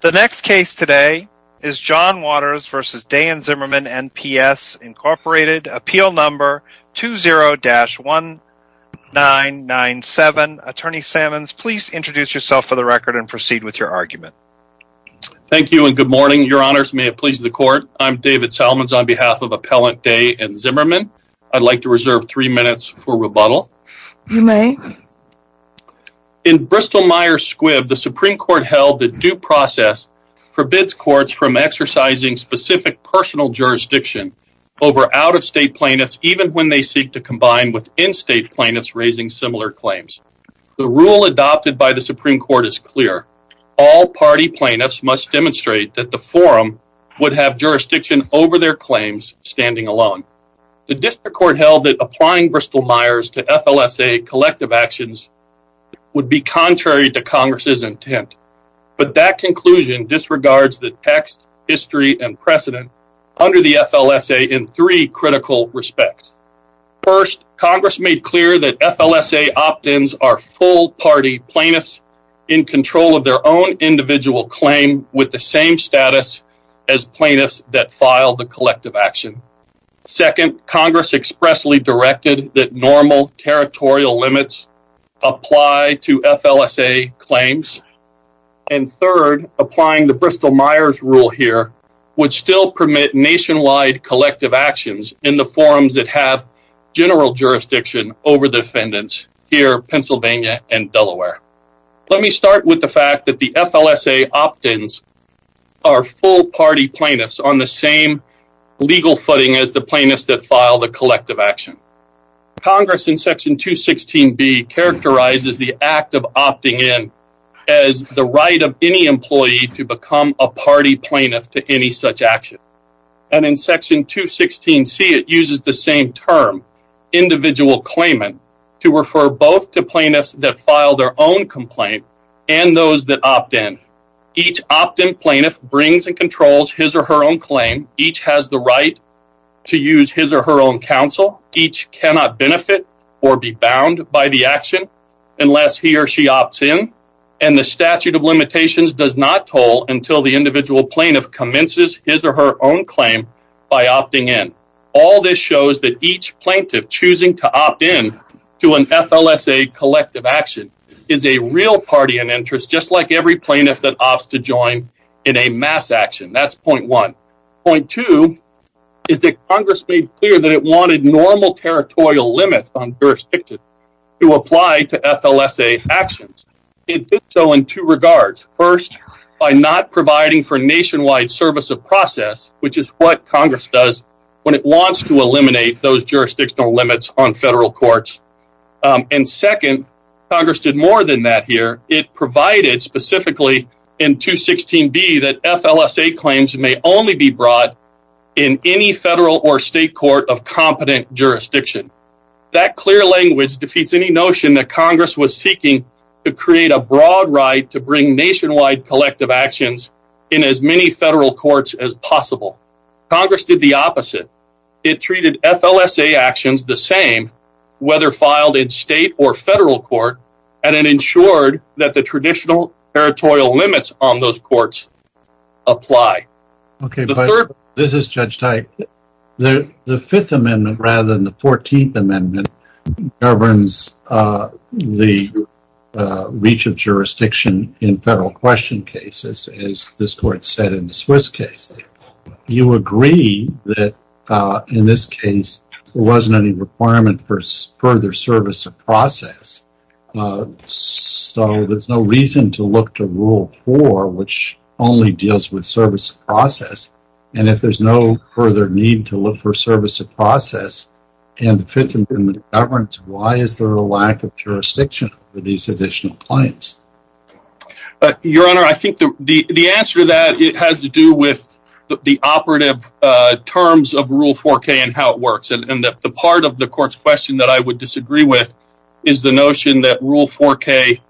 The next case today is John Waters v. Day & Zimmermann NPS, Inc. Appeal Number 20-1997. Attorney Sammons, please introduce yourself for the record and proceed with your argument. Thank you and good morning. Your Honors, may it please the Court. I'm David Salmons on behalf of Appellant Day & Zimmermann. I'd like to reserve three minutes for rebuttal. You may. In Bristol-Myers-Squibb, the Supreme Court held that due process forbids courts from exercising specific personal jurisdiction over out-of-state plaintiffs even when they seek to combine with in-state plaintiffs raising similar claims. The rule adopted by the Supreme Court is clear. All party plaintiffs must demonstrate that the forum would have jurisdiction over their claims standing alone. The District Court held that applying Bristol-Myers to FLSA collective actions would be contrary to Congress' intent. But that conclusion disregards the text, history, and precedent under the FLSA in three critical respects. First, Congress made clear that FLSA opt-ins are full party plaintiffs in control of their own individual claim with the same status as plaintiffs that filed the collective action. Second, Congress expressly directed that normal territorial limits apply to FLSA claims. And third, applying the Bristol-Myers rule here would still permit nationwide collective actions in the forums that have general jurisdiction over the defendants here in Pennsylvania and Delaware. Let me start with the fact that the FLSA opt-ins are full party plaintiffs on the same legal footing as the plaintiffs that file the collective action. Congress in Section 216B characterizes the act of opting in as the right of any employee to become a party plaintiff to any such action. And in Section 216C, it uses the same term, individual claimant, to refer both to plaintiffs that file their own complaint and those that opt-in. Each opt-in plaintiff brings and controls his or her own claim. Each has the right to use his or her own counsel. Each cannot benefit or be bound by the action unless he or she opts in. And the statute of limitations does not toll until the individual plaintiff commences his or her own claim by opting in. All this shows that each plaintiff choosing to opt in to an FLSA collective action is a real party in interest, just like every plaintiff that opts to join in a mass action. That's point one. Point two is that Congress made clear that it wanted normal territorial limits on jurisdiction to apply to FLSA actions. It did so in two regards. First, by not providing for nationwide service of process, which is what Congress does when it wants to eliminate those jurisdictional limits on federal courts. And second, Congress did more than that here. It provided specifically in 216B that FLSA claims may only be brought in any federal or state court of competent jurisdiction. That clear language defeats any notion that Congress was seeking to create a broad right to bring nationwide collective actions in as many federal courts as possible. Congress did the opposite. It treated FLSA actions the same, whether filed in state or federal court, and it ensured that the traditional territorial limits on those courts apply. This is Judge Teich. The fifth amendment, rather than the 14th amendment, governs the reach of jurisdiction in federal question cases, as this court said in the Swiss case. You agree that in this case, there wasn't any requirement for further service of process, so there's no reason to look to rule four, which only deals with service of process. And if there's no further need to look for service of process and the fifth amendment governs, why is there a lack of jurisdiction for these additional claims? Your Honor, I think the answer to that has to do with the operative terms of rule 4K and how it works. And the part of the court's question that I would disagree with is the notion that rule 4K,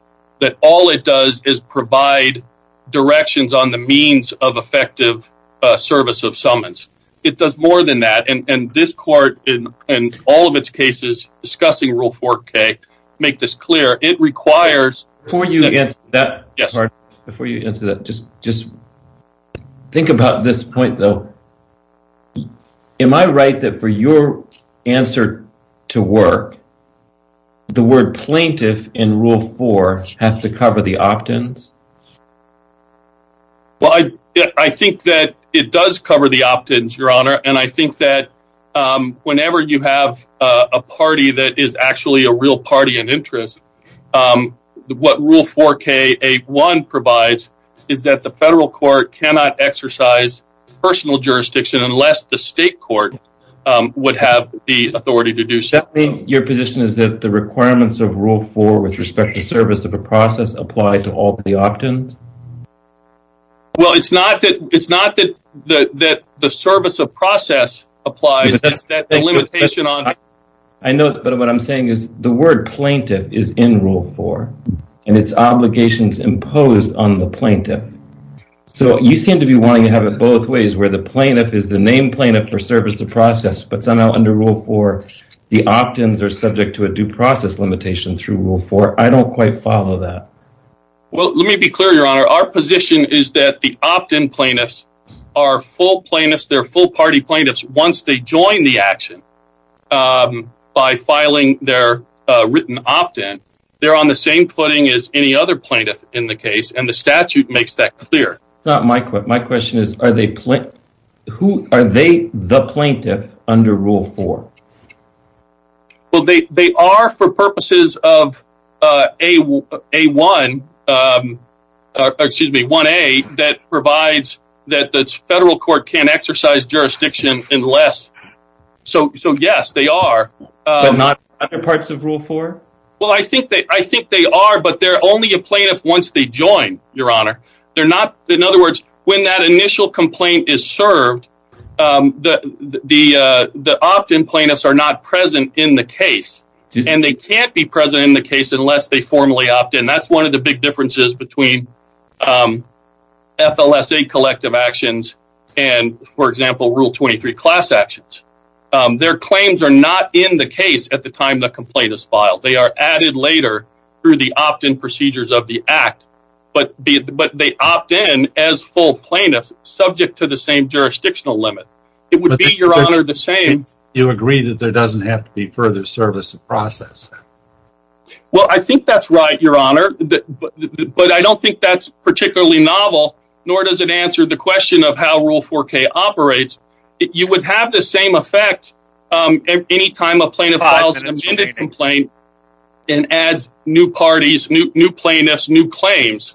that all it does is provide directions on the means of effective service of summons. It does more than that, and this court, in all of its cases discussing rule 4K, make this clear. It requires... Before you answer that, just think about this point, though. Am I right that for your answer to work, the word plaintiff in rule 4 has to cover the optins? Well, I think that it does cover the optins, Your Honor, and I think that whenever you have a party that is actually a real party in interest, what rule 4K provides is that the federal court cannot exercise personal jurisdiction unless the state court would have the authority to do so. Does that mean your position is that the requirements of rule 4 with respect to service of a process apply to all the optins? Well, it's not that the service of process applies, it's that the limitation on... I know, but what I'm saying is the word plaintiff is in rule 4, and its obligation is imposed on the plaintiff. So, you seem to be wanting to have it both ways, where the plaintiff is the named plaintiff for service of process, but somehow under rule 4, the optins are subject to a due process limitation through rule 4. I don't quite follow that. Well, let me be clear, Your Honor. Our position is that the optin plaintiffs are full plaintiffs, they're full party plaintiffs, once they join the action by filing their written optin, they're on the same footing as any other plaintiff in the case, and the statute makes that clear. That's not my question. My question is, are they the plaintiff under rule 4? Well, they are for purposes of 1A, that provides that the federal court can't exercise jurisdiction unless... So, yes, they are. But not other parts of rule 4? Well, I think they are, but they're only a plaintiff once they join, Your Honor. In other words, when that initial complaint is served, the optin plaintiffs are not present in the case, and they can't be present in the case unless they formally opt in. And that's one of the big differences between FLSA collective actions and, for example, rule 23 class actions. Their claims are not in the case at the time the complaint is filed. They are added later through the optin procedures of the act, but they opt in as full plaintiffs subject to the same jurisdictional limit. It would be, Your Honor, the same... You agree that there doesn't have to be further service of process? Well, I think that's right, Your Honor, but I don't think that's particularly novel, nor does it answer the question of how rule 4K operates. You would have the same effect any time a plaintiff files an amended complaint and adds new parties, new plaintiffs, new claims.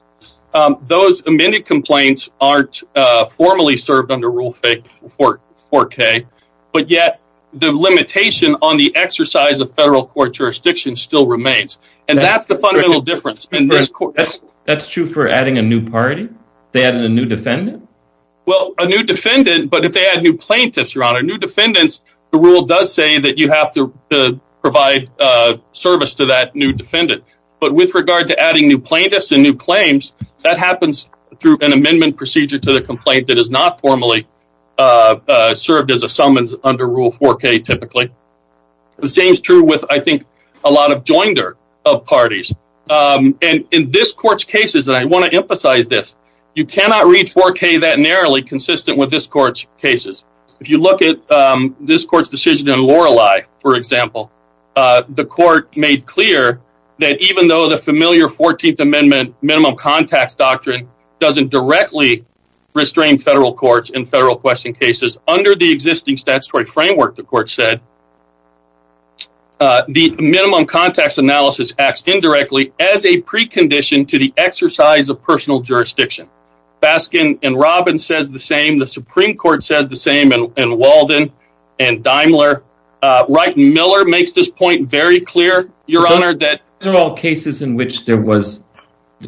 Those amended complaints aren't formally served under rule 4K, but yet the limitation on the exercise of federal court jurisdiction still remains. And that's the fundamental difference in this court. That's true for adding a new party? They added a new defendant? Well, a new defendant, but if they add new plaintiffs, Your Honor, new defendants, the rule does say that you have to provide service to that new defendant. But with regard to adding new plaintiffs and new claims, that happens through an amendment procedure to the complaint that is not formally served as a summons under rule 4K, typically. The same is true with, I think, a lot of joinder of parties. And in this court's cases, and I want to emphasize this, you cannot read 4K that narrowly consistent with this court's cases. If you look at this court's decision in Lorelei, for example, the court made clear that even though the familiar 14th Amendment minimum contacts doctrine doesn't directly restrain federal courts in federal question cases, under the existing statutory framework, the court said, the minimum contacts analysis acts indirectly as a precondition to the exercise of personal jurisdiction. Baskin and Robbins says the same, the Supreme Court says the same, and Walden and Daimler, Wright and Miller makes this point very clear, Your Honor, that these are all cases in which there was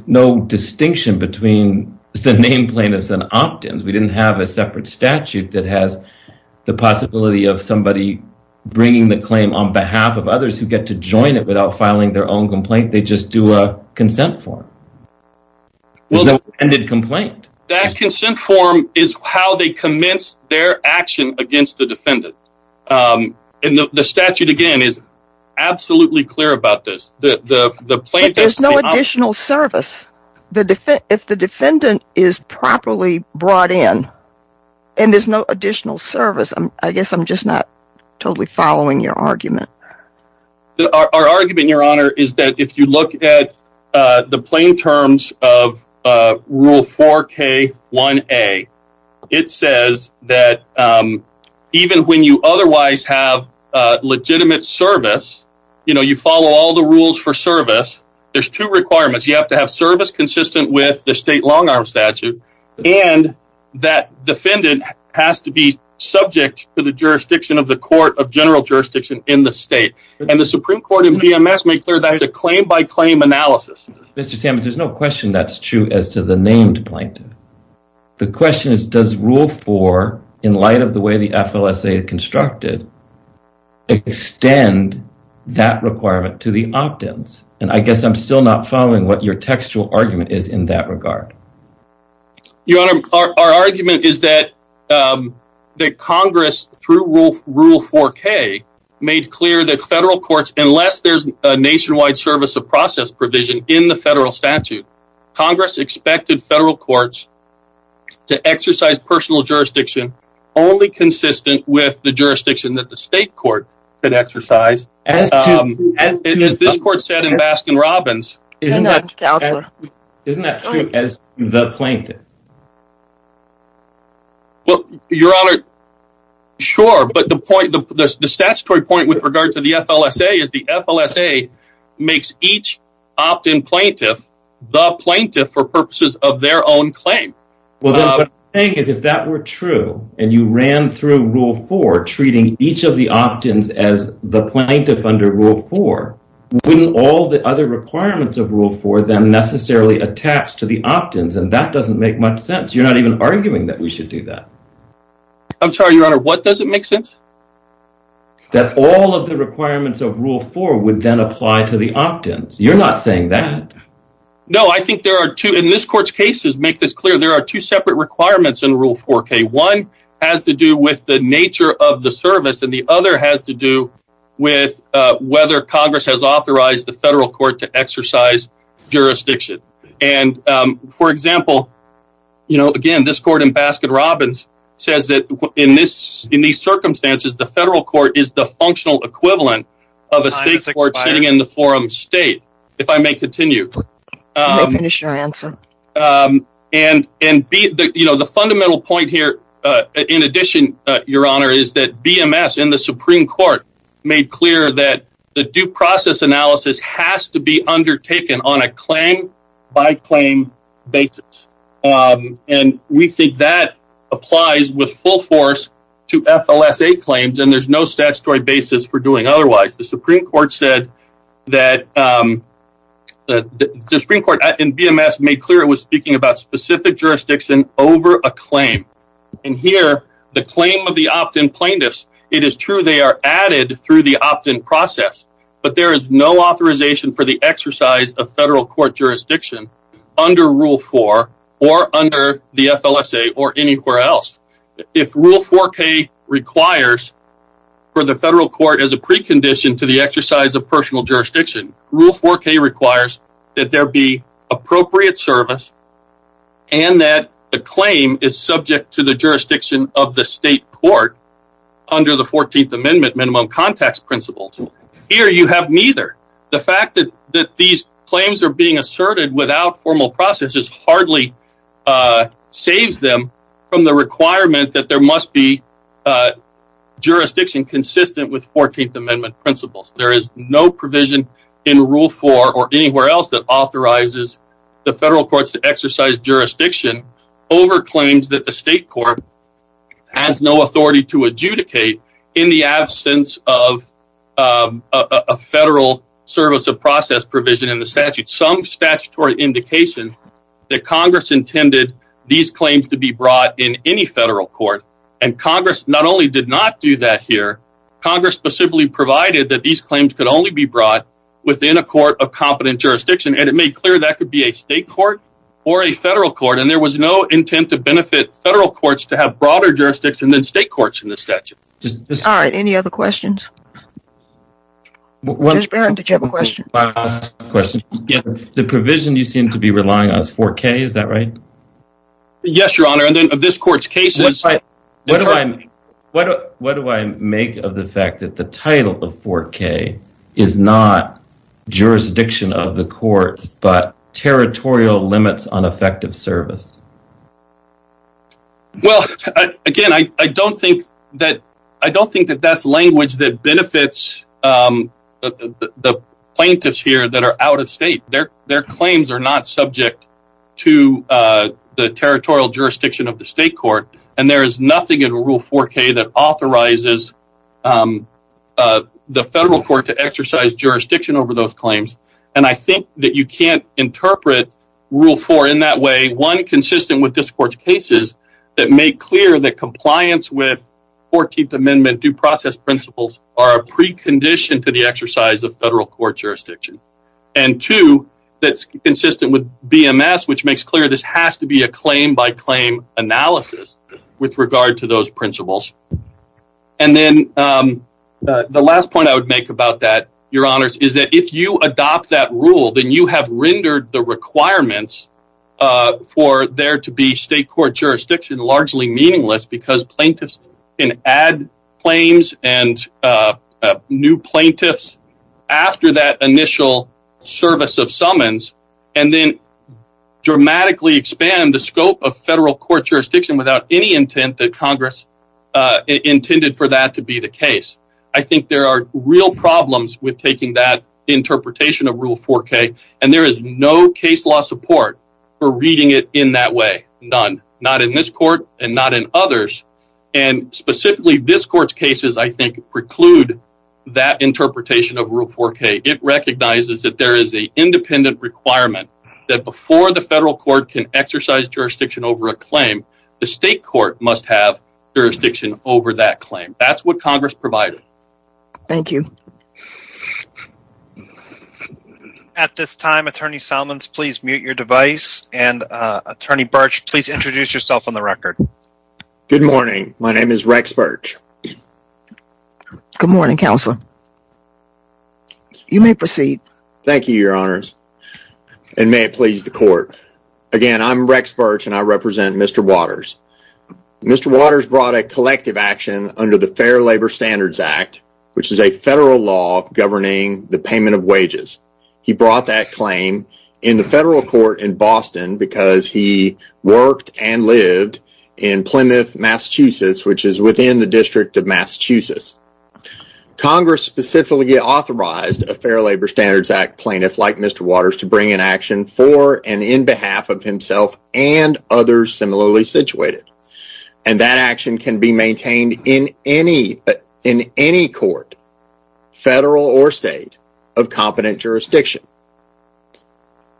no distinction between the name plaintiffs and opt-ins. We didn't have a separate statute that has the possibility of somebody bringing the claim on behalf of others who get to join it without filing their own complaint. They just do a consent form. That consent form is how they commence their action against the defendant. And the statute, again, is absolutely clear about this. But there's no additional service. If the defendant is properly brought in and there's no additional service, I guess I'm just not totally following your argument. Our argument, Your Honor, is that if you look at the plain terms of Rule 4K1A, it says that even when you otherwise have legitimate service, you know, you follow all the rules for service, there's two requirements. You have to have service consistent with the state long-arm statute, and that defendant has to be subject to the jurisdiction of the court of general jurisdiction in the state. And the Supreme Court in BMS made clear that it's a claim-by-claim analysis. Mr. Sammons, there's no question that's true as to the named plaintiff. The question is, does Rule 4, in light of the way the FLSA is constructed, extend that requirement to the opt-ins? And I guess I'm still not following what your textual argument is in that regard. Your Honor, our argument is that Congress, through Rule 4K, made clear that federal courts, unless there's a nationwide service of process provision in the federal statute, Congress expected federal courts to exercise personal jurisdiction only consistent with the jurisdiction that the state court could exercise. As this court said in Baskin-Robbins, isn't that true as to the plaintiff? Your Honor, sure, but the point, the statutory point with regard to the FLSA is the FLSA makes each opt-in plaintiff the plaintiff for purposes of their own claim. What I'm saying is, if that were true, and you ran through Rule 4, treating each of the opt-ins as the plaintiff under Rule 4, wouldn't all the other requirements of Rule 4 then necessarily attach to the opt-ins? And that doesn't make much sense. You're not even arguing that we should do that. I'm sorry, Your Honor, what doesn't make sense? That all of the requirements of Rule 4 would then apply to the opt-ins. You're not saying that. No, I think there are two, and this court's cases make this clear, there are two separate requirements in Rule 4K. One has to do with the nature of the service, and the other has to do with whether Congress has authorized the federal court to exercise jurisdiction. And, for example, you know, again, this court in Baskin-Robbins says that in these circumstances, the federal court is the functional equivalent of a state court sitting in the forum state, if I may continue. I'll finish your answer. And, you know, the fundamental point here, in addition, Your Honor, is that BMS and the Supreme Court made clear that the due process analysis has to be undertaken on a claim-by-claim basis. And we think that applies with full force to FLSA claims, and there's no statutory basis for doing otherwise. The Supreme Court said that the Supreme Court in BMS made clear it was speaking about specific jurisdiction over a claim. And here, the claim of the opt-in plaintiffs, it is true they are added through the opt-in process, but there is no authorization for the exercise of federal court jurisdiction under Rule 4 or under the FLSA or anywhere else. If Rule 4K requires for the federal court as a precondition to the exercise of personal jurisdiction, Rule 4K requires that there be appropriate service and that the claim is subject to the jurisdiction of the state court under the 14th Amendment minimum context principles. Here, you have neither. The fact that these claims are being asserted without formal processes hardly saves them from the requirement that there must be jurisdiction consistent with 14th Amendment principles. There is no provision in Rule 4 or anywhere else that authorizes the federal courts to exercise jurisdiction over claims that the state court has no authority to adjudicate in the absence of a federal service of process provision in the statute. There was no intent to benefit federal courts to have broader jurisdiction than state courts in the statute. All right, any other questions? Judge Barron, did you have a question? The provision you seem to be relying on is 4K, is that right? Yes, Your Honor, and then of this court's cases... What do I make of the fact that the title of 4K is not jurisdiction of the courts, but territorial limits on effective service? Well, again, I don't think that that's language that benefits the plaintiffs here that are out of state. Their claims are not subject to the territorial jurisdiction of the state court, and there is nothing in Rule 4K that authorizes the federal court to exercise jurisdiction over those claims. And I think that you can't interpret Rule 4 in that way. One, consistent with this court's cases that make clear that compliance with 14th Amendment due process principles are a precondition to the exercise of federal court jurisdiction. And two, that's consistent with BMS, which makes clear this has to be a claim-by-claim analysis with regard to those principles. And then the last point I would make about that, Your Honors, is that if you adopt that rule, then you have rendered the requirements for there to be state court jurisdiction largely meaningless because plaintiffs can add claims and new plaintiffs after that initial service of summons and then dramatically expand the scope of federal court jurisdiction without any intent that Congress intended for that to be the case. I think there are real problems with taking that interpretation of Rule 4K, and there is no case law support for reading it in that way. None. Not in this court and not in others. And specifically, this court's cases, I think, preclude that interpretation of Rule 4K. It recognizes that there is an independent requirement that before the federal court can exercise jurisdiction over a claim, the state court must have jurisdiction over that claim. That's what Congress provided. Thank you. At this time, Attorney Solomons, please mute your device, and Attorney Birch, please introduce yourself on the record. Good morning. My name is Rex Birch. Good morning, Counselor. You may proceed. Thank you, Your Honors, and may it please the Court. Again, I'm Rex Birch, and I represent Mr. Waters. Mr. Waters brought a collective action under the Fair Labor Standards Act, which is a federal law governing the payment of wages. He brought that claim in the federal court in Boston because he worked and lived in Plymouth, Massachusetts, which is within the District of Massachusetts. Congress specifically authorized a Fair Labor Standards Act plaintiff like Mr. Waters to bring an action for and in behalf of himself and others similarly situated. And that action can be maintained in any court, federal or state, of competent jurisdiction.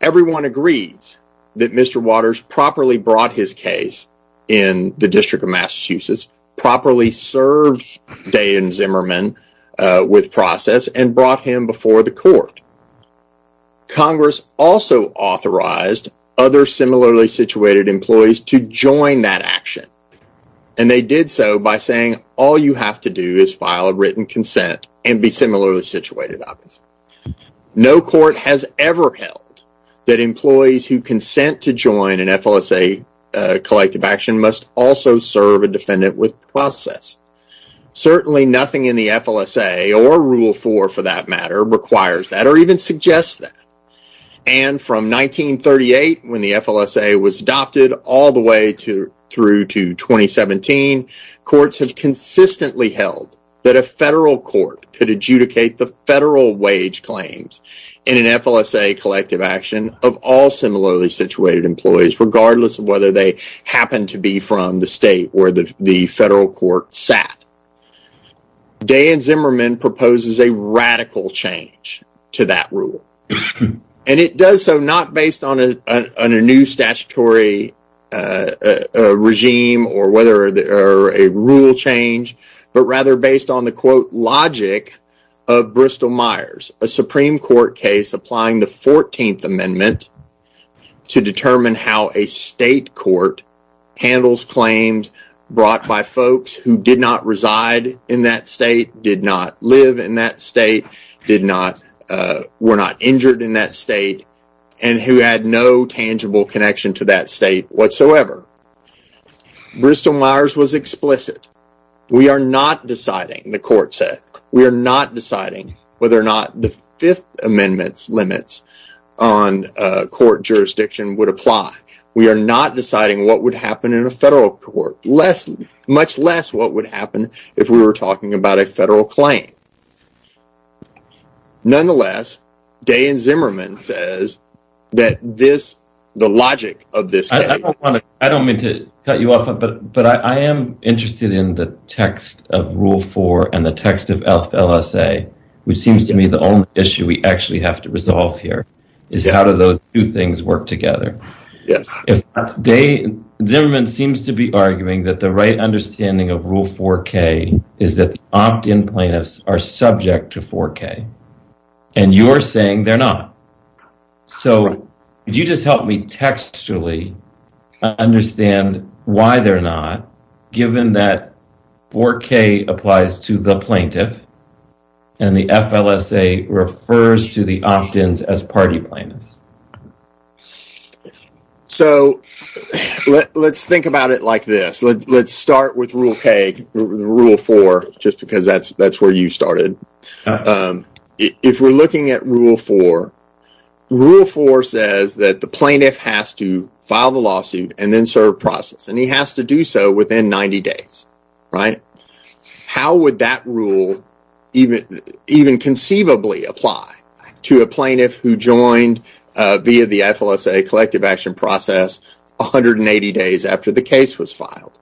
Everyone agrees that Mr. Waters properly brought his case in the District of Massachusetts, properly served Day and Zimmerman with process, and brought him before the court. Congress also authorized other similarly situated employees to join that action, and they did so by saying all you have to do is file a written consent and be similarly situated. No court has ever held that employees who consent to join an FLSA collective action must also serve a defendant with process. Certainly nothing in the FLSA, or Rule 4 for that matter, requires that or even suggests that. And from 1938, when the FLSA was adopted, all the way through to 2017, courts have consistently held that a federal court could adjudicate the federal wage claims in an FLSA collective action of all similarly situated employees, regardless of whether they happen to be from the state where the federal court sat. Day and Zimmerman proposes a radical change to that rule, and it does so not based on a new statutory regime or a rule change, but rather based on the quote logic of Bristol Myers, a Supreme Court case applying the 14th Amendment to determine how a state court handles claims brought by folks who did not reside in that state, did not live in that state, were not injured in that state, and who had no tangible connection to that state whatsoever. Bristol Myers was explicit. We are not deciding, the court said, we are not deciding whether or not the 5th Amendment's limits on court jurisdiction would apply. We are not deciding what would happen in a federal court, much less what would happen if we were talking about a federal claim. Nonetheless, Day and Zimmerman says that the logic of this case… I don't mean to cut you off, but I am interested in the text of Rule 4 and the text of FLSA, which seems to me the only issue we actually have to resolve here is how do those two things work together. Day and Zimmerman seems to be arguing that the right understanding of Rule 4K is that the opt-in plaintiffs are subject to 4K, and you are saying they are not. So, could you just help me textually understand why they are not, given that 4K applies to the plaintiff, and the FLSA refers to the opt-ins as party plaintiffs? So, let's think about it like this. Let's start with Rule 4, just because that is where you started. If we are looking at Rule 4, Rule 4 says that the plaintiff has to file the lawsuit and then serve process, and he has to do so within 90 days. How would that rule even conceivably apply to a plaintiff who joined via the FLSA collective action process 180 days after the case was filed?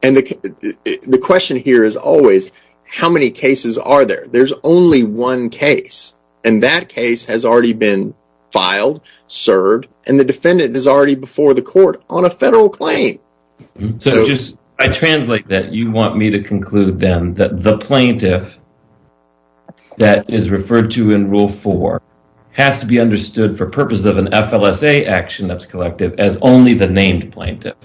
The question here is always, how many cases are there? There is only one case, and that case has already been filed, served, and the defendant is already before the court on a federal claim. I translate that you want me to conclude then that the plaintiff that is referred to in Rule 4 has to be understood for purpose of an FLSA action that is collective as only the named plaintiff.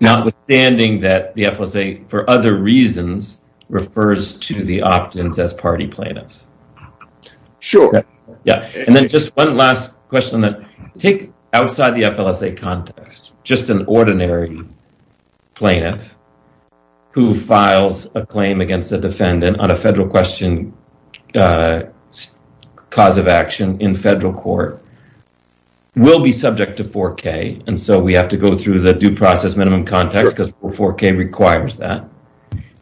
Notwithstanding that the FLSA, for other reasons, refers to the opt-ins as party plaintiffs. Sure. Just one last question. Take outside the FLSA context, just an ordinary plaintiff who files a claim against a defendant on a federal question, cause of action in federal court, will be subject to 4K. We have to go through the due process minimum context because 4K requires that.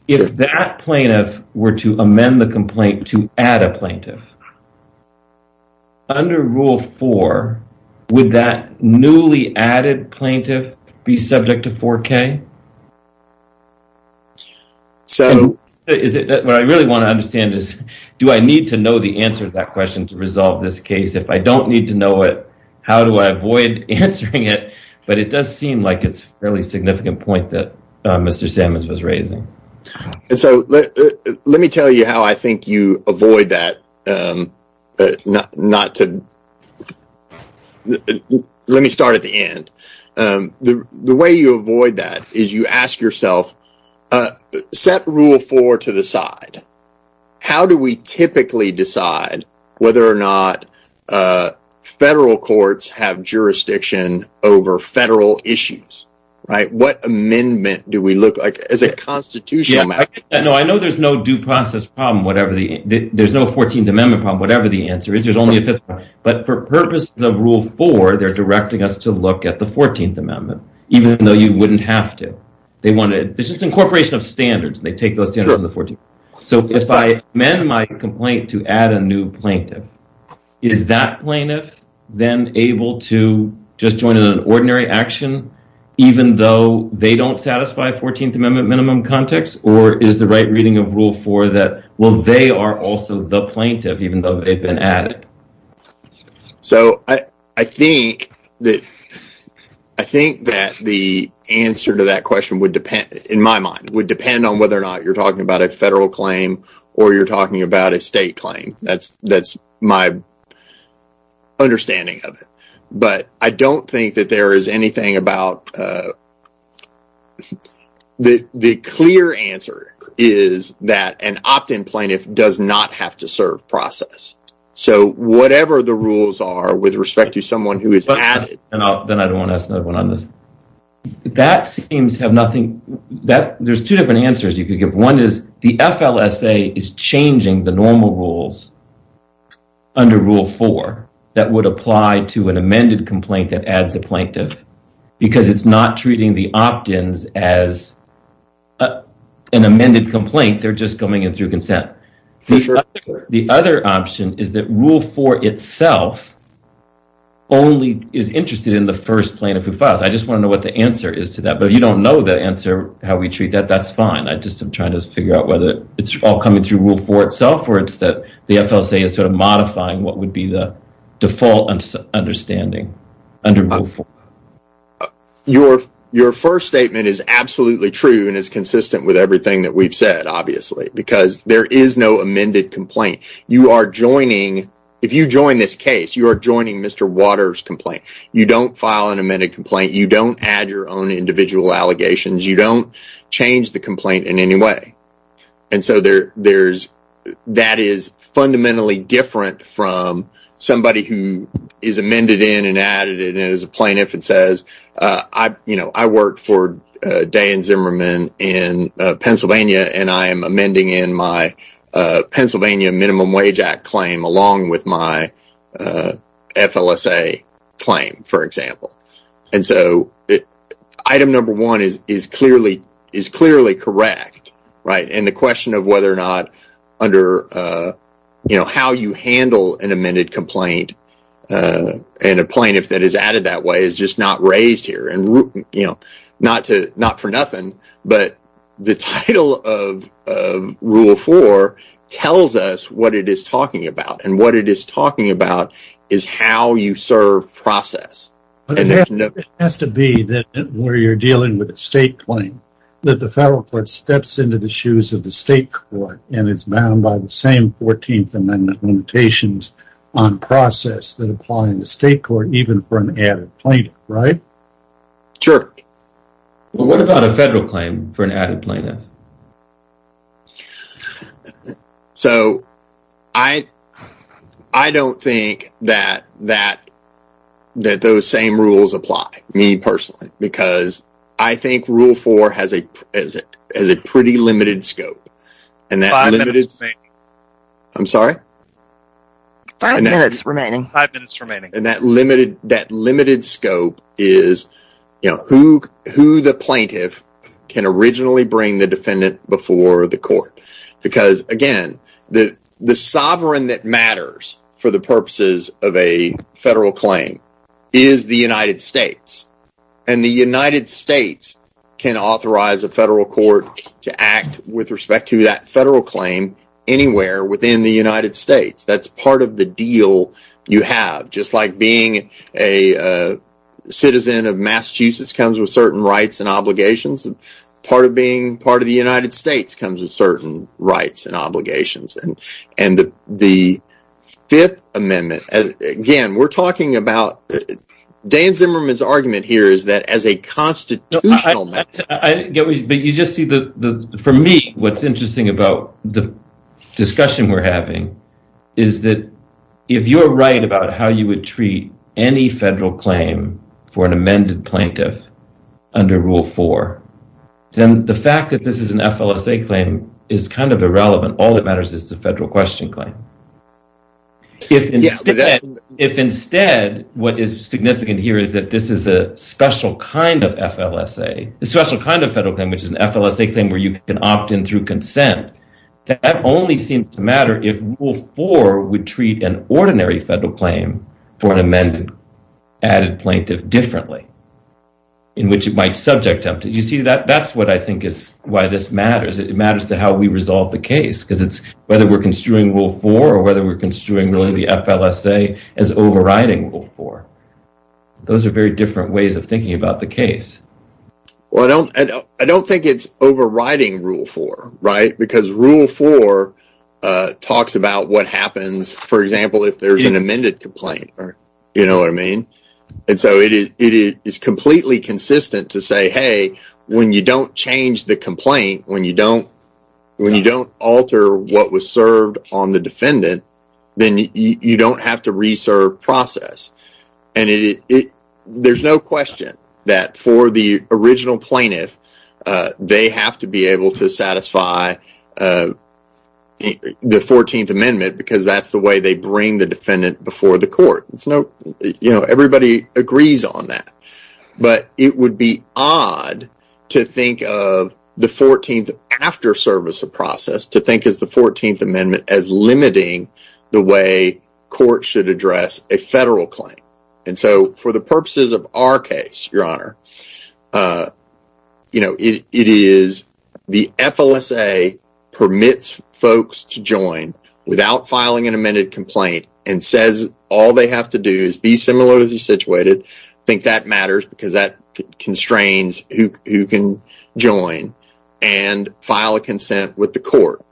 If that plaintiff were to amend the complaint to add a plaintiff, under Rule 4, would that newly added plaintiff be subject to 4K? What I really want to understand is, do I need to know the answer to that question to resolve this case? If I don't need to know it, how do I avoid answering it? But it does seem like it's a fairly significant point that Mr. Sammons was raising. Let me tell you how I think you avoid that. Let me start at the end. The way you avoid that is you ask yourself, set Rule 4 to the side. How do we typically decide whether or not federal courts have jurisdiction over federal issues? What amendment do we look at as a constitutional matter? This is an incorporation of standards. If I amend my complaint to add a new plaintiff, is that plaintiff then able to just join in an ordinary action even though they don't satisfy 14th Amendment minimum context? Or is the right reading of Rule 4 that they are also the plaintiff even though they've been added? I think that the answer to that question, in my mind, would depend on whether or not you're talking about a federal claim or you're talking about a state claim. That's my understanding of it. The clear answer is that an opt-in plaintiff does not have to serve process. So whatever the rules are with respect to someone who is added... ...because it's not treating the opt-ins as an amended complaint, they're just coming in through consent. The other option is that Rule 4 itself only is interested in the first plaintiff who files. I just want to know what the answer is to that. If you don't know the answer to how we treat that, that's fine. I'm just trying to figure out whether it's all coming through Rule 4 itself or the FLSA is modifying what would be the default understanding under Rule 4. Your first statement is absolutely true and is consistent with everything that we've said, obviously. There is no amended complaint. If you join this case, you are joining Mr. Waters' complaint. You don't file an amended complaint. You don't add your own individual allegations. You don't change the complaint in any way. That is fundamentally different from somebody who is amended in and added in. As a plaintiff, it says, I work for Dan Zimmerman in Pennsylvania and I am amending in my Pennsylvania Minimum Wage Act claim along with my FLSA claim, for example. Item number one is clearly correct. The question of how you handle an amended complaint and a plaintiff that is added that way is just not raised here. Not for nothing, but the title of Rule 4 tells us what it is talking about. What it is talking about is how you serve process. It has to be where you are dealing with a state claim that the federal court steps into the shoes of the state court and is bound by the same 14th Amendment limitations on process that apply in the state court even for an added plaintiff, right? Sure. What about a federal claim for an added plaintiff? I don't think that those same rules apply, me personally, because I think Rule 4 has a pretty limited scope. Five minutes remaining. I'm sorry? Five minutes remaining. That limited scope is who the plaintiff can originally bring the defendant before the court. Because, again, the sovereign that matters for the purposes of a federal claim is the United States. And the United States can authorize a federal court to act with respect to that federal claim anywhere within the United States. That's part of the deal you have. Just like being a citizen of Massachusetts comes with certain rights and obligations, part of being part of the United States comes with certain rights and obligations. And the Fifth Amendment, again, we're talking about Dan Zimmerman's argument here is that as a constitutional matter... If, instead, what is significant here is that this is a special kind of FLSA, a special kind of federal claim, which is an FLSA claim where you can opt in through consent, that only seems to matter if Rule 4 would treat an ordinary federal claim for an amended added plaintiff differently, in which it might subject them. You see, that's what I think is why this matters. It matters to how we resolve the case, because it's whether we're construing Rule 4 or whether we're construing the FLSA as overriding Rule 4. Those are very different ways of thinking about the case. Well, I don't think it's overriding Rule 4, right? Because Rule 4 talks about what happens, for example, if there's an amended complaint. You know what I mean? And so it is completely consistent to say, hey, when you don't change the complaint, when you don't alter what was served on the defendant, then you don't have to re-serve process. And there's no question that for the original plaintiff, they have to be able to satisfy the 14th Amendment, because that's the way they bring the defendant before the court. Everybody agrees on that. But it would be odd to think of the 14th after service of process, to think of the 14th Amendment as limiting the way courts should address a federal claim. And so for the purposes of our case, Your Honor, it is the FLSA permits folks to join without filing an amended complaint and says all they have to do is be similarly situated. I think that matters, because that constrains who can join and file a consent with the court.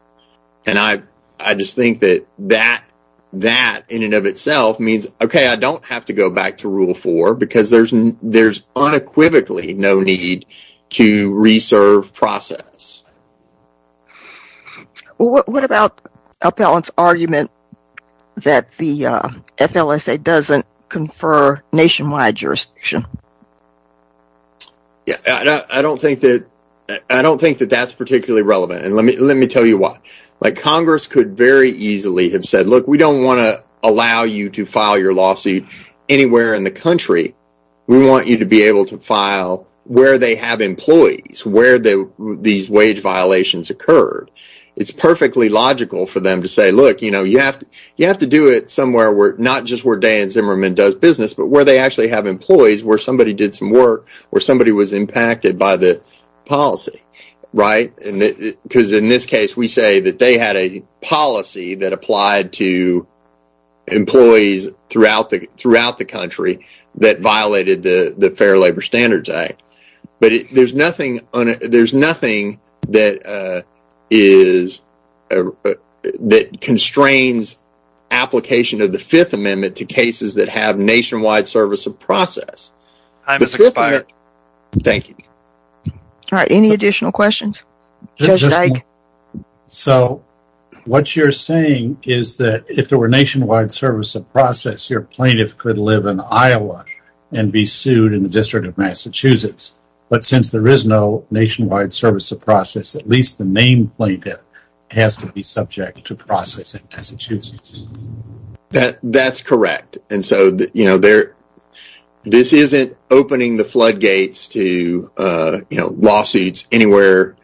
And I just think that that in and of itself means, okay, I don't have to go back to Rule 4, because there's unequivocally no need to re-serve process. What about Appellant's argument that the FLSA doesn't confer nationwide jurisdiction? I don't think that that's particularly relevant, and let me tell you why. Congress could very easily have said, look, we don't want to allow you to file your lawsuit anywhere in the country. We want you to be able to file where they have employees, where these wage violations occurred. It's perfectly logical for them to say, look, you have to do it somewhere, not just where Dan Zimmerman does business, but where they actually have employees, where somebody did some work, where somebody was impacted by the policy. Because in this case, we say that they had a policy that applied to employees throughout the country that violated the Fair Labor Standards Act. But there's nothing that constrains application of the Fifth Amendment to cases that have nationwide service of process. Time has expired. Thank you. All right, any additional questions? Judge Dyke? So what you're saying is that if there were nationwide service of process, your plaintiff could live in Iowa and be sued in the District of Massachusetts. But since there is no nationwide service of process, at least the named plaintiff has to be subject to process in Massachusetts. That's correct. This isn't opening the floodgates to lawsuits anywhere,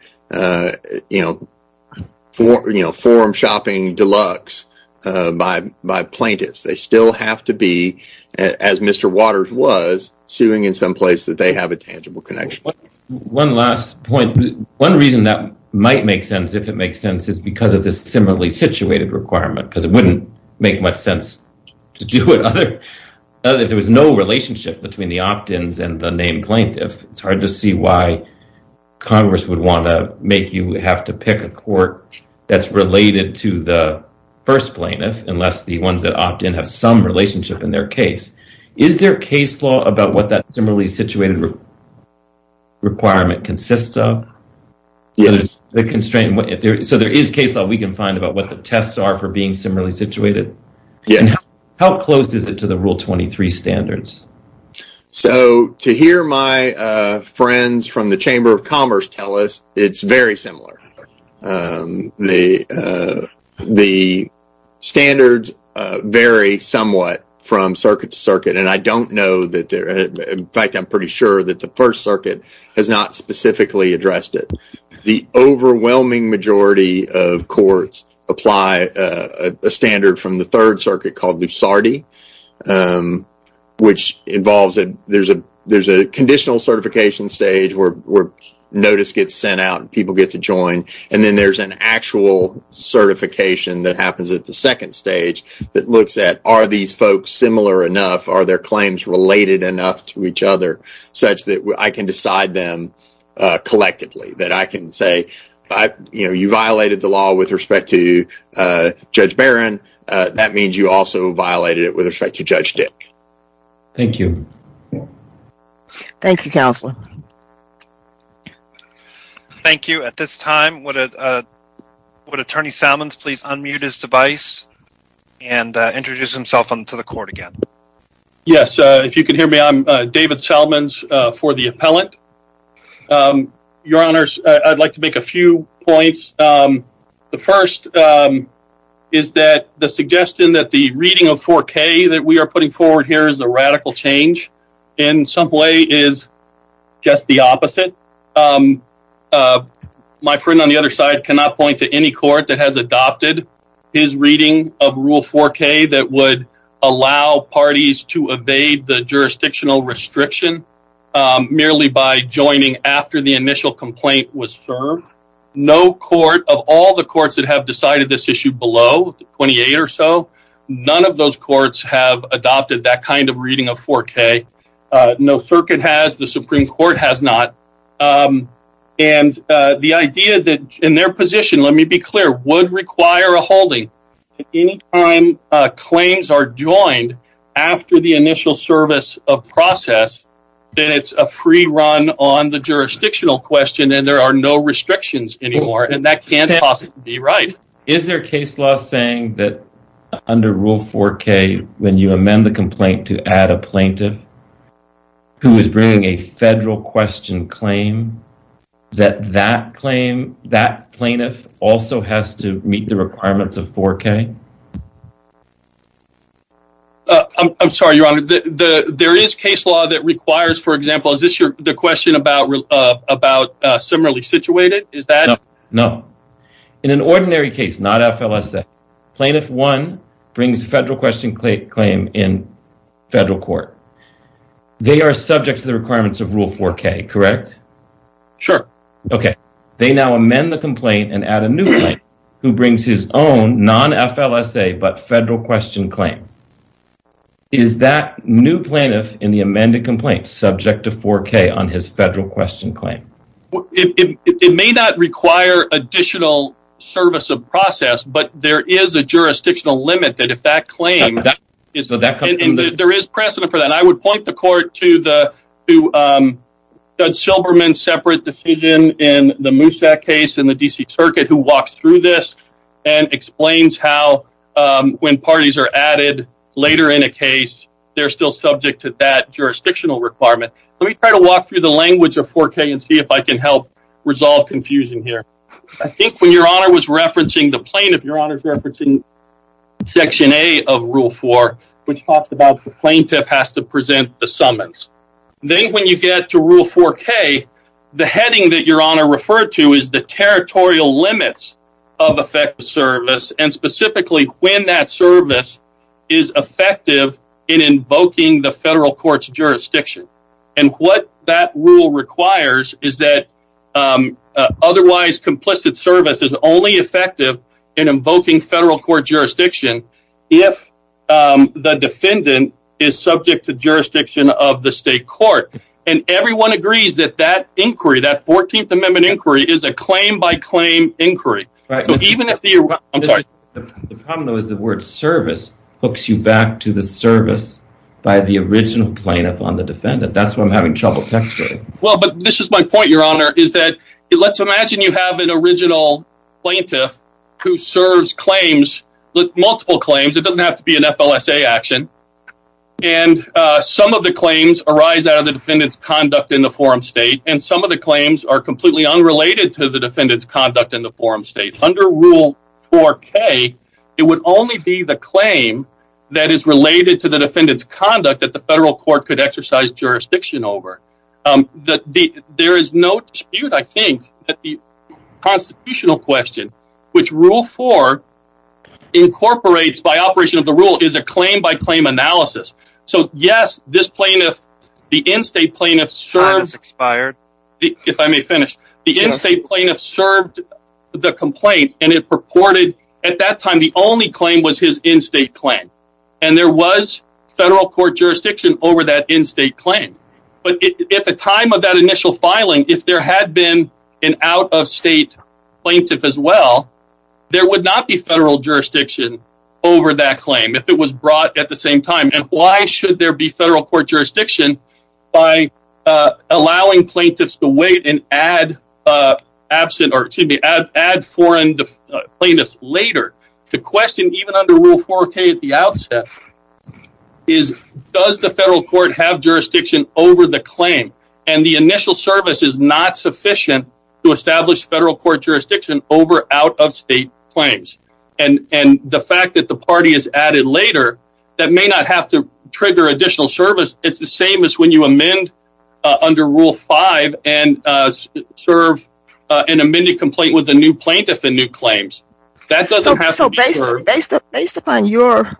forum shopping deluxe by plaintiffs. They still have to be, as Mr. Waters was, suing in some place that they have a tangible connection. One last point. One reason that might make sense, if it makes sense, is because of this similarly situated requirement. Because it wouldn't make much sense to do it if there was no relationship between the opt-ins and the named plaintiff. It's hard to see why Congress would want to make you have to pick a court that's related to the first plaintiff, unless the ones that opt-in have some relationship in their case. Is there case law about what that similarly situated requirement consists of? Yes. So there is case law we can find about what the tests are for being similarly situated? Yes. How close is it to the Rule 23 standards? So to hear my friends from the Chamber of Commerce tell us, it's very similar. The standards vary somewhat from circuit to circuit. And I don't know, in fact, I'm pretty sure that the First Circuit has not specifically addressed it. The overwhelming majority of courts apply a standard from the Third Circuit called Lusardi, which involves that there's a conditional certification stage where notice gets sent out and people get to join. And then there's an actual certification that happens at the second stage that looks at are these folks similar enough? Are their claims related enough to each other such that I can decide them collectively? That I can say, you know, you violated the law with respect to Judge Barron. That means you also violated it with respect to Judge Dick. Thank you. Thank you, Counselor. Thank you. At this time, would Attorney Salmons please unmute his device and introduce himself to the court again? Yes. If you can hear me, I'm David Salmons for the appellant. Your Honors, I'd like to make a few points. The first is that the suggestion that the reading of 4K that we are putting forward here is a radical change in some way is just the opposite. My friend on the other side cannot point to any court that has adopted his reading of Rule 4K that would allow parties to evade the jurisdictional restriction merely by joining after the initial complaint was served. No court of all the courts that have decided this issue below 28 or so, none of those courts have adopted that kind of reading of 4K. No circuit has. The Supreme Court has not. And the idea that in their position, let me be clear, would require a holding. Anytime claims are joined after the initial service of process, then it's a free run on the jurisdictional question and there are no restrictions anymore. And that can't possibly be right. Is there a case law saying that under Rule 4K, when you amend the complaint to add a plaintiff who is bringing a federal question claim, that that claim, that plaintiff also has to meet the requirements of 4K? I'm sorry, Your Honor. There is case law that requires, for example, is this the question about similarly situated? No. In an ordinary case, not FLSA, plaintiff one brings federal question claim in federal court. They are subject to the requirements of Rule 4K, correct? Sure. Okay. They now amend the complaint and add a new one who brings his own non-FLSA but federal question claim. Is that new plaintiff in the amended complaint subject to 4K on his federal question claim? It may not require additional service of process, but there is a jurisdictional limit that if that claim, there is precedent for that. And I would point the court to Judge Silberman's separate decision in the Moosak case in the D.C. Circuit who walks through this and explains how when parties are added later in a case, they're still subject to that jurisdictional requirement. Let me try to walk through the language of 4K and see if I can help resolve confusion here. I think when Your Honor was referencing the plaintiff, Your Honor is referencing Section A of Rule 4, which talks about the plaintiff has to present the summons. Then when you get to Rule 4K, the heading that Your Honor referred to is the territorial limits of effective service and specifically when that service is effective in invoking the federal court's jurisdiction. And what that rule requires is that otherwise complicit service is only effective in invoking federal court jurisdiction if the defendant is subject to jurisdiction of the state court. And everyone agrees that that inquiry, that 14th Amendment inquiry, is a claim by claim inquiry. The problem though is the word service hooks you back to the service by the original plaintiff on the defendant. That's what I'm having trouble texturing. Well, but this is my point, Your Honor, is that let's imagine you have an original plaintiff who serves multiple claims. It doesn't have to be an FLSA action. And some of the claims arise out of the defendant's conduct in the forum state and some of the claims are completely unrelated to the defendant's conduct in the forum state. Under Rule 4K, it would only be the claim that is related to the defendant's conduct that the federal court could exercise jurisdiction over. There is no dispute, I think, that the constitutional question, which Rule 4 incorporates by operation of the rule, is a claim by claim analysis. So yes, this plaintiff, the in-state plaintiff, served the complaint and it purported at that time the only claim was his in-state claim. And there was federal court jurisdiction over that in-state claim. But at the time of that initial filing, if there had been an out-of-state plaintiff as well, there would not be federal jurisdiction over that claim if it was brought at the same time. And why should there be federal court jurisdiction by allowing plaintiffs to wait and add foreign plaintiffs later? The question, even under Rule 4K at the outset, is does the federal court have jurisdiction over the claim? And the initial service is not sufficient to establish federal court jurisdiction over out-of-state claims. And the fact that the party is added later, that may not have to trigger additional service. It's the same as when you amend under Rule 5 and serve an amended complaint with a new plaintiff and new claims. So based upon your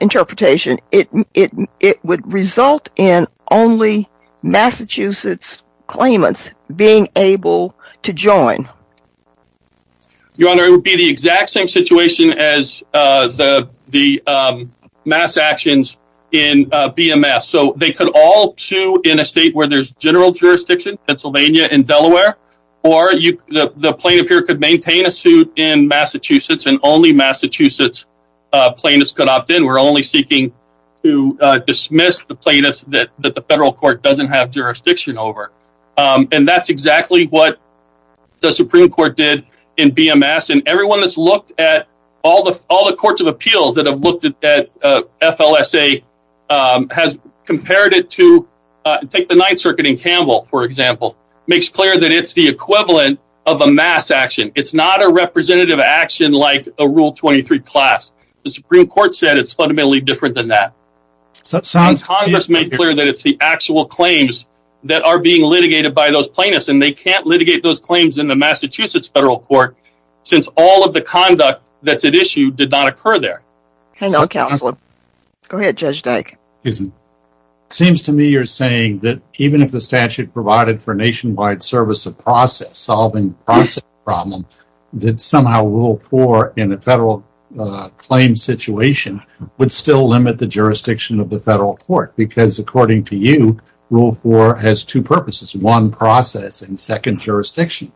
interpretation, it would result in only Massachusetts claimants being able to join? Your Honor, it would be the exact same situation as the mass actions in BMS. So they could all sue in a state where there's general jurisdiction, Pennsylvania and Delaware, or the plaintiff here could maintain a suit in Massachusetts and only Massachusetts plaintiffs could opt in. We're only seeking to dismiss the plaintiffs that the federal court doesn't have jurisdiction over. And that's exactly what the Supreme Court did in BMS. And everyone that's looked at all the courts of appeals that have looked at FLSA has compared it to take the Ninth Circuit in Campbell, for example, makes clear that it's the equivalent of a mass action. It's not a representative action like a Rule 23 class. The Supreme Court said it's fundamentally different than that. Congress made clear that it's the actual claims that are being litigated by those plaintiffs. And they can't litigate those claims in the Massachusetts federal court since all of the conduct that's at issue did not occur there. Go ahead, Judge Dyke. It seems to me you're saying that even if the statute provided for nationwide service of process, solving the process problem, that somehow Rule 4 in a federal claim situation would still limit the jurisdiction of the federal court. Because according to you, Rule 4 has two purposes, one process and second jurisdiction.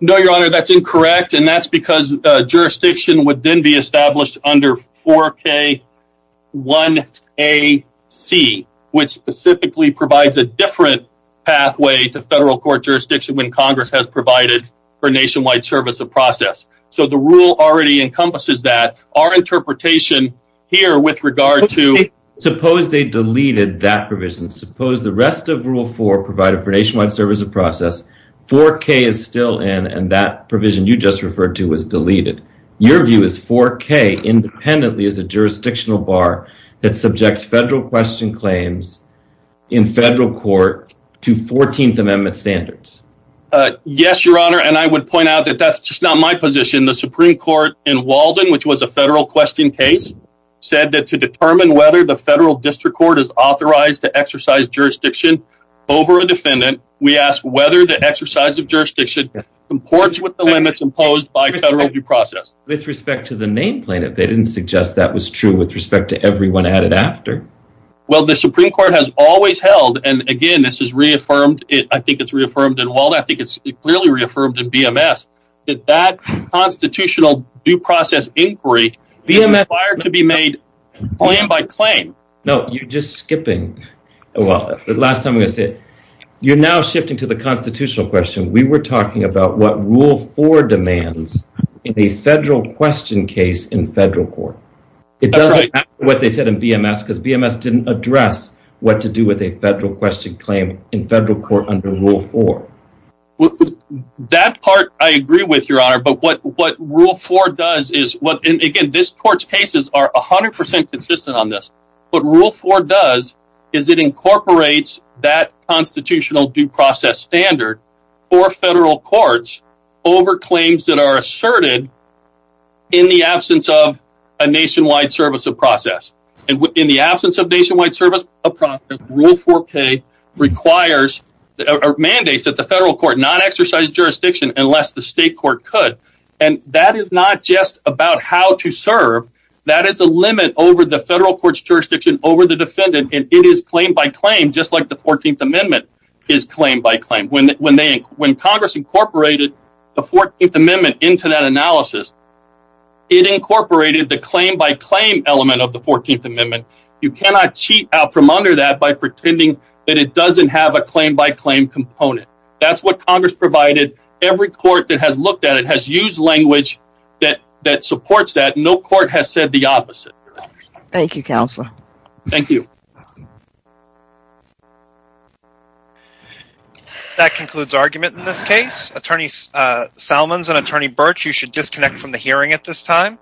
No, Your Honor, that's incorrect. And that's because jurisdiction would then be established under 4K1AC, which specifically provides a different pathway to federal court jurisdiction when Congress has provided for nationwide service of process. So the rule already encompasses that. Suppose they deleted that provision. Suppose the rest of Rule 4 provided for nationwide service of process, 4K is still in and that provision you just referred to was deleted. Your view is 4K independently is a jurisdictional bar that subjects federal question claims in federal court to 14th Amendment standards. Yes, Your Honor. And I would point out that that's just not my position. The Supreme Court in Walden, which was a federal question case, said that to determine whether the federal district court is authorized to exercise jurisdiction over a defendant, we ask whether the exercise of jurisdiction comports with the limits imposed by federal due process. With respect to the nameplate, if they didn't suggest that was true with respect to everyone added after. Well, the Supreme Court has always held, and again, this is reaffirmed. I think it's reaffirmed in Walden. I think it's clearly reaffirmed in BMS. That constitutional due process inquiry is required to be made claim by claim. No, you're just skipping. Well, the last time I'm going to say, you're now shifting to the constitutional question. We were talking about what Rule 4 demands in the federal question case in federal court. It doesn't matter what they said in BMS because BMS didn't address what to do with a federal question claim in federal court under Rule 4. That part, I agree with your honor. But what Rule 4 does is, again, this court's cases are 100% consistent on this. What Rule 4 does is it incorporates that constitutional due process standard for federal courts over claims that are asserted in the absence of a nationwide service of process. In the absence of nationwide service of process, Rule 4K mandates that the federal court not exercise jurisdiction unless the state court could. That is not just about how to serve. That is a limit over the federal court's jurisdiction over the defendant. It is claim by claim just like the 14th Amendment is claim by claim. When Congress incorporated the 14th Amendment into that analysis, it incorporated the claim by claim element of the 14th Amendment. You cannot cheat out from under that by pretending that it doesn't have a claim by claim component. That's what Congress provided. Every court that has looked at it has used language that supports that. No court has said the opposite. Thank you, Counselor. Thank you. That concludes argument in this case. Attorney Salmons and Attorney Birch, you should disconnect from the hearing at this time.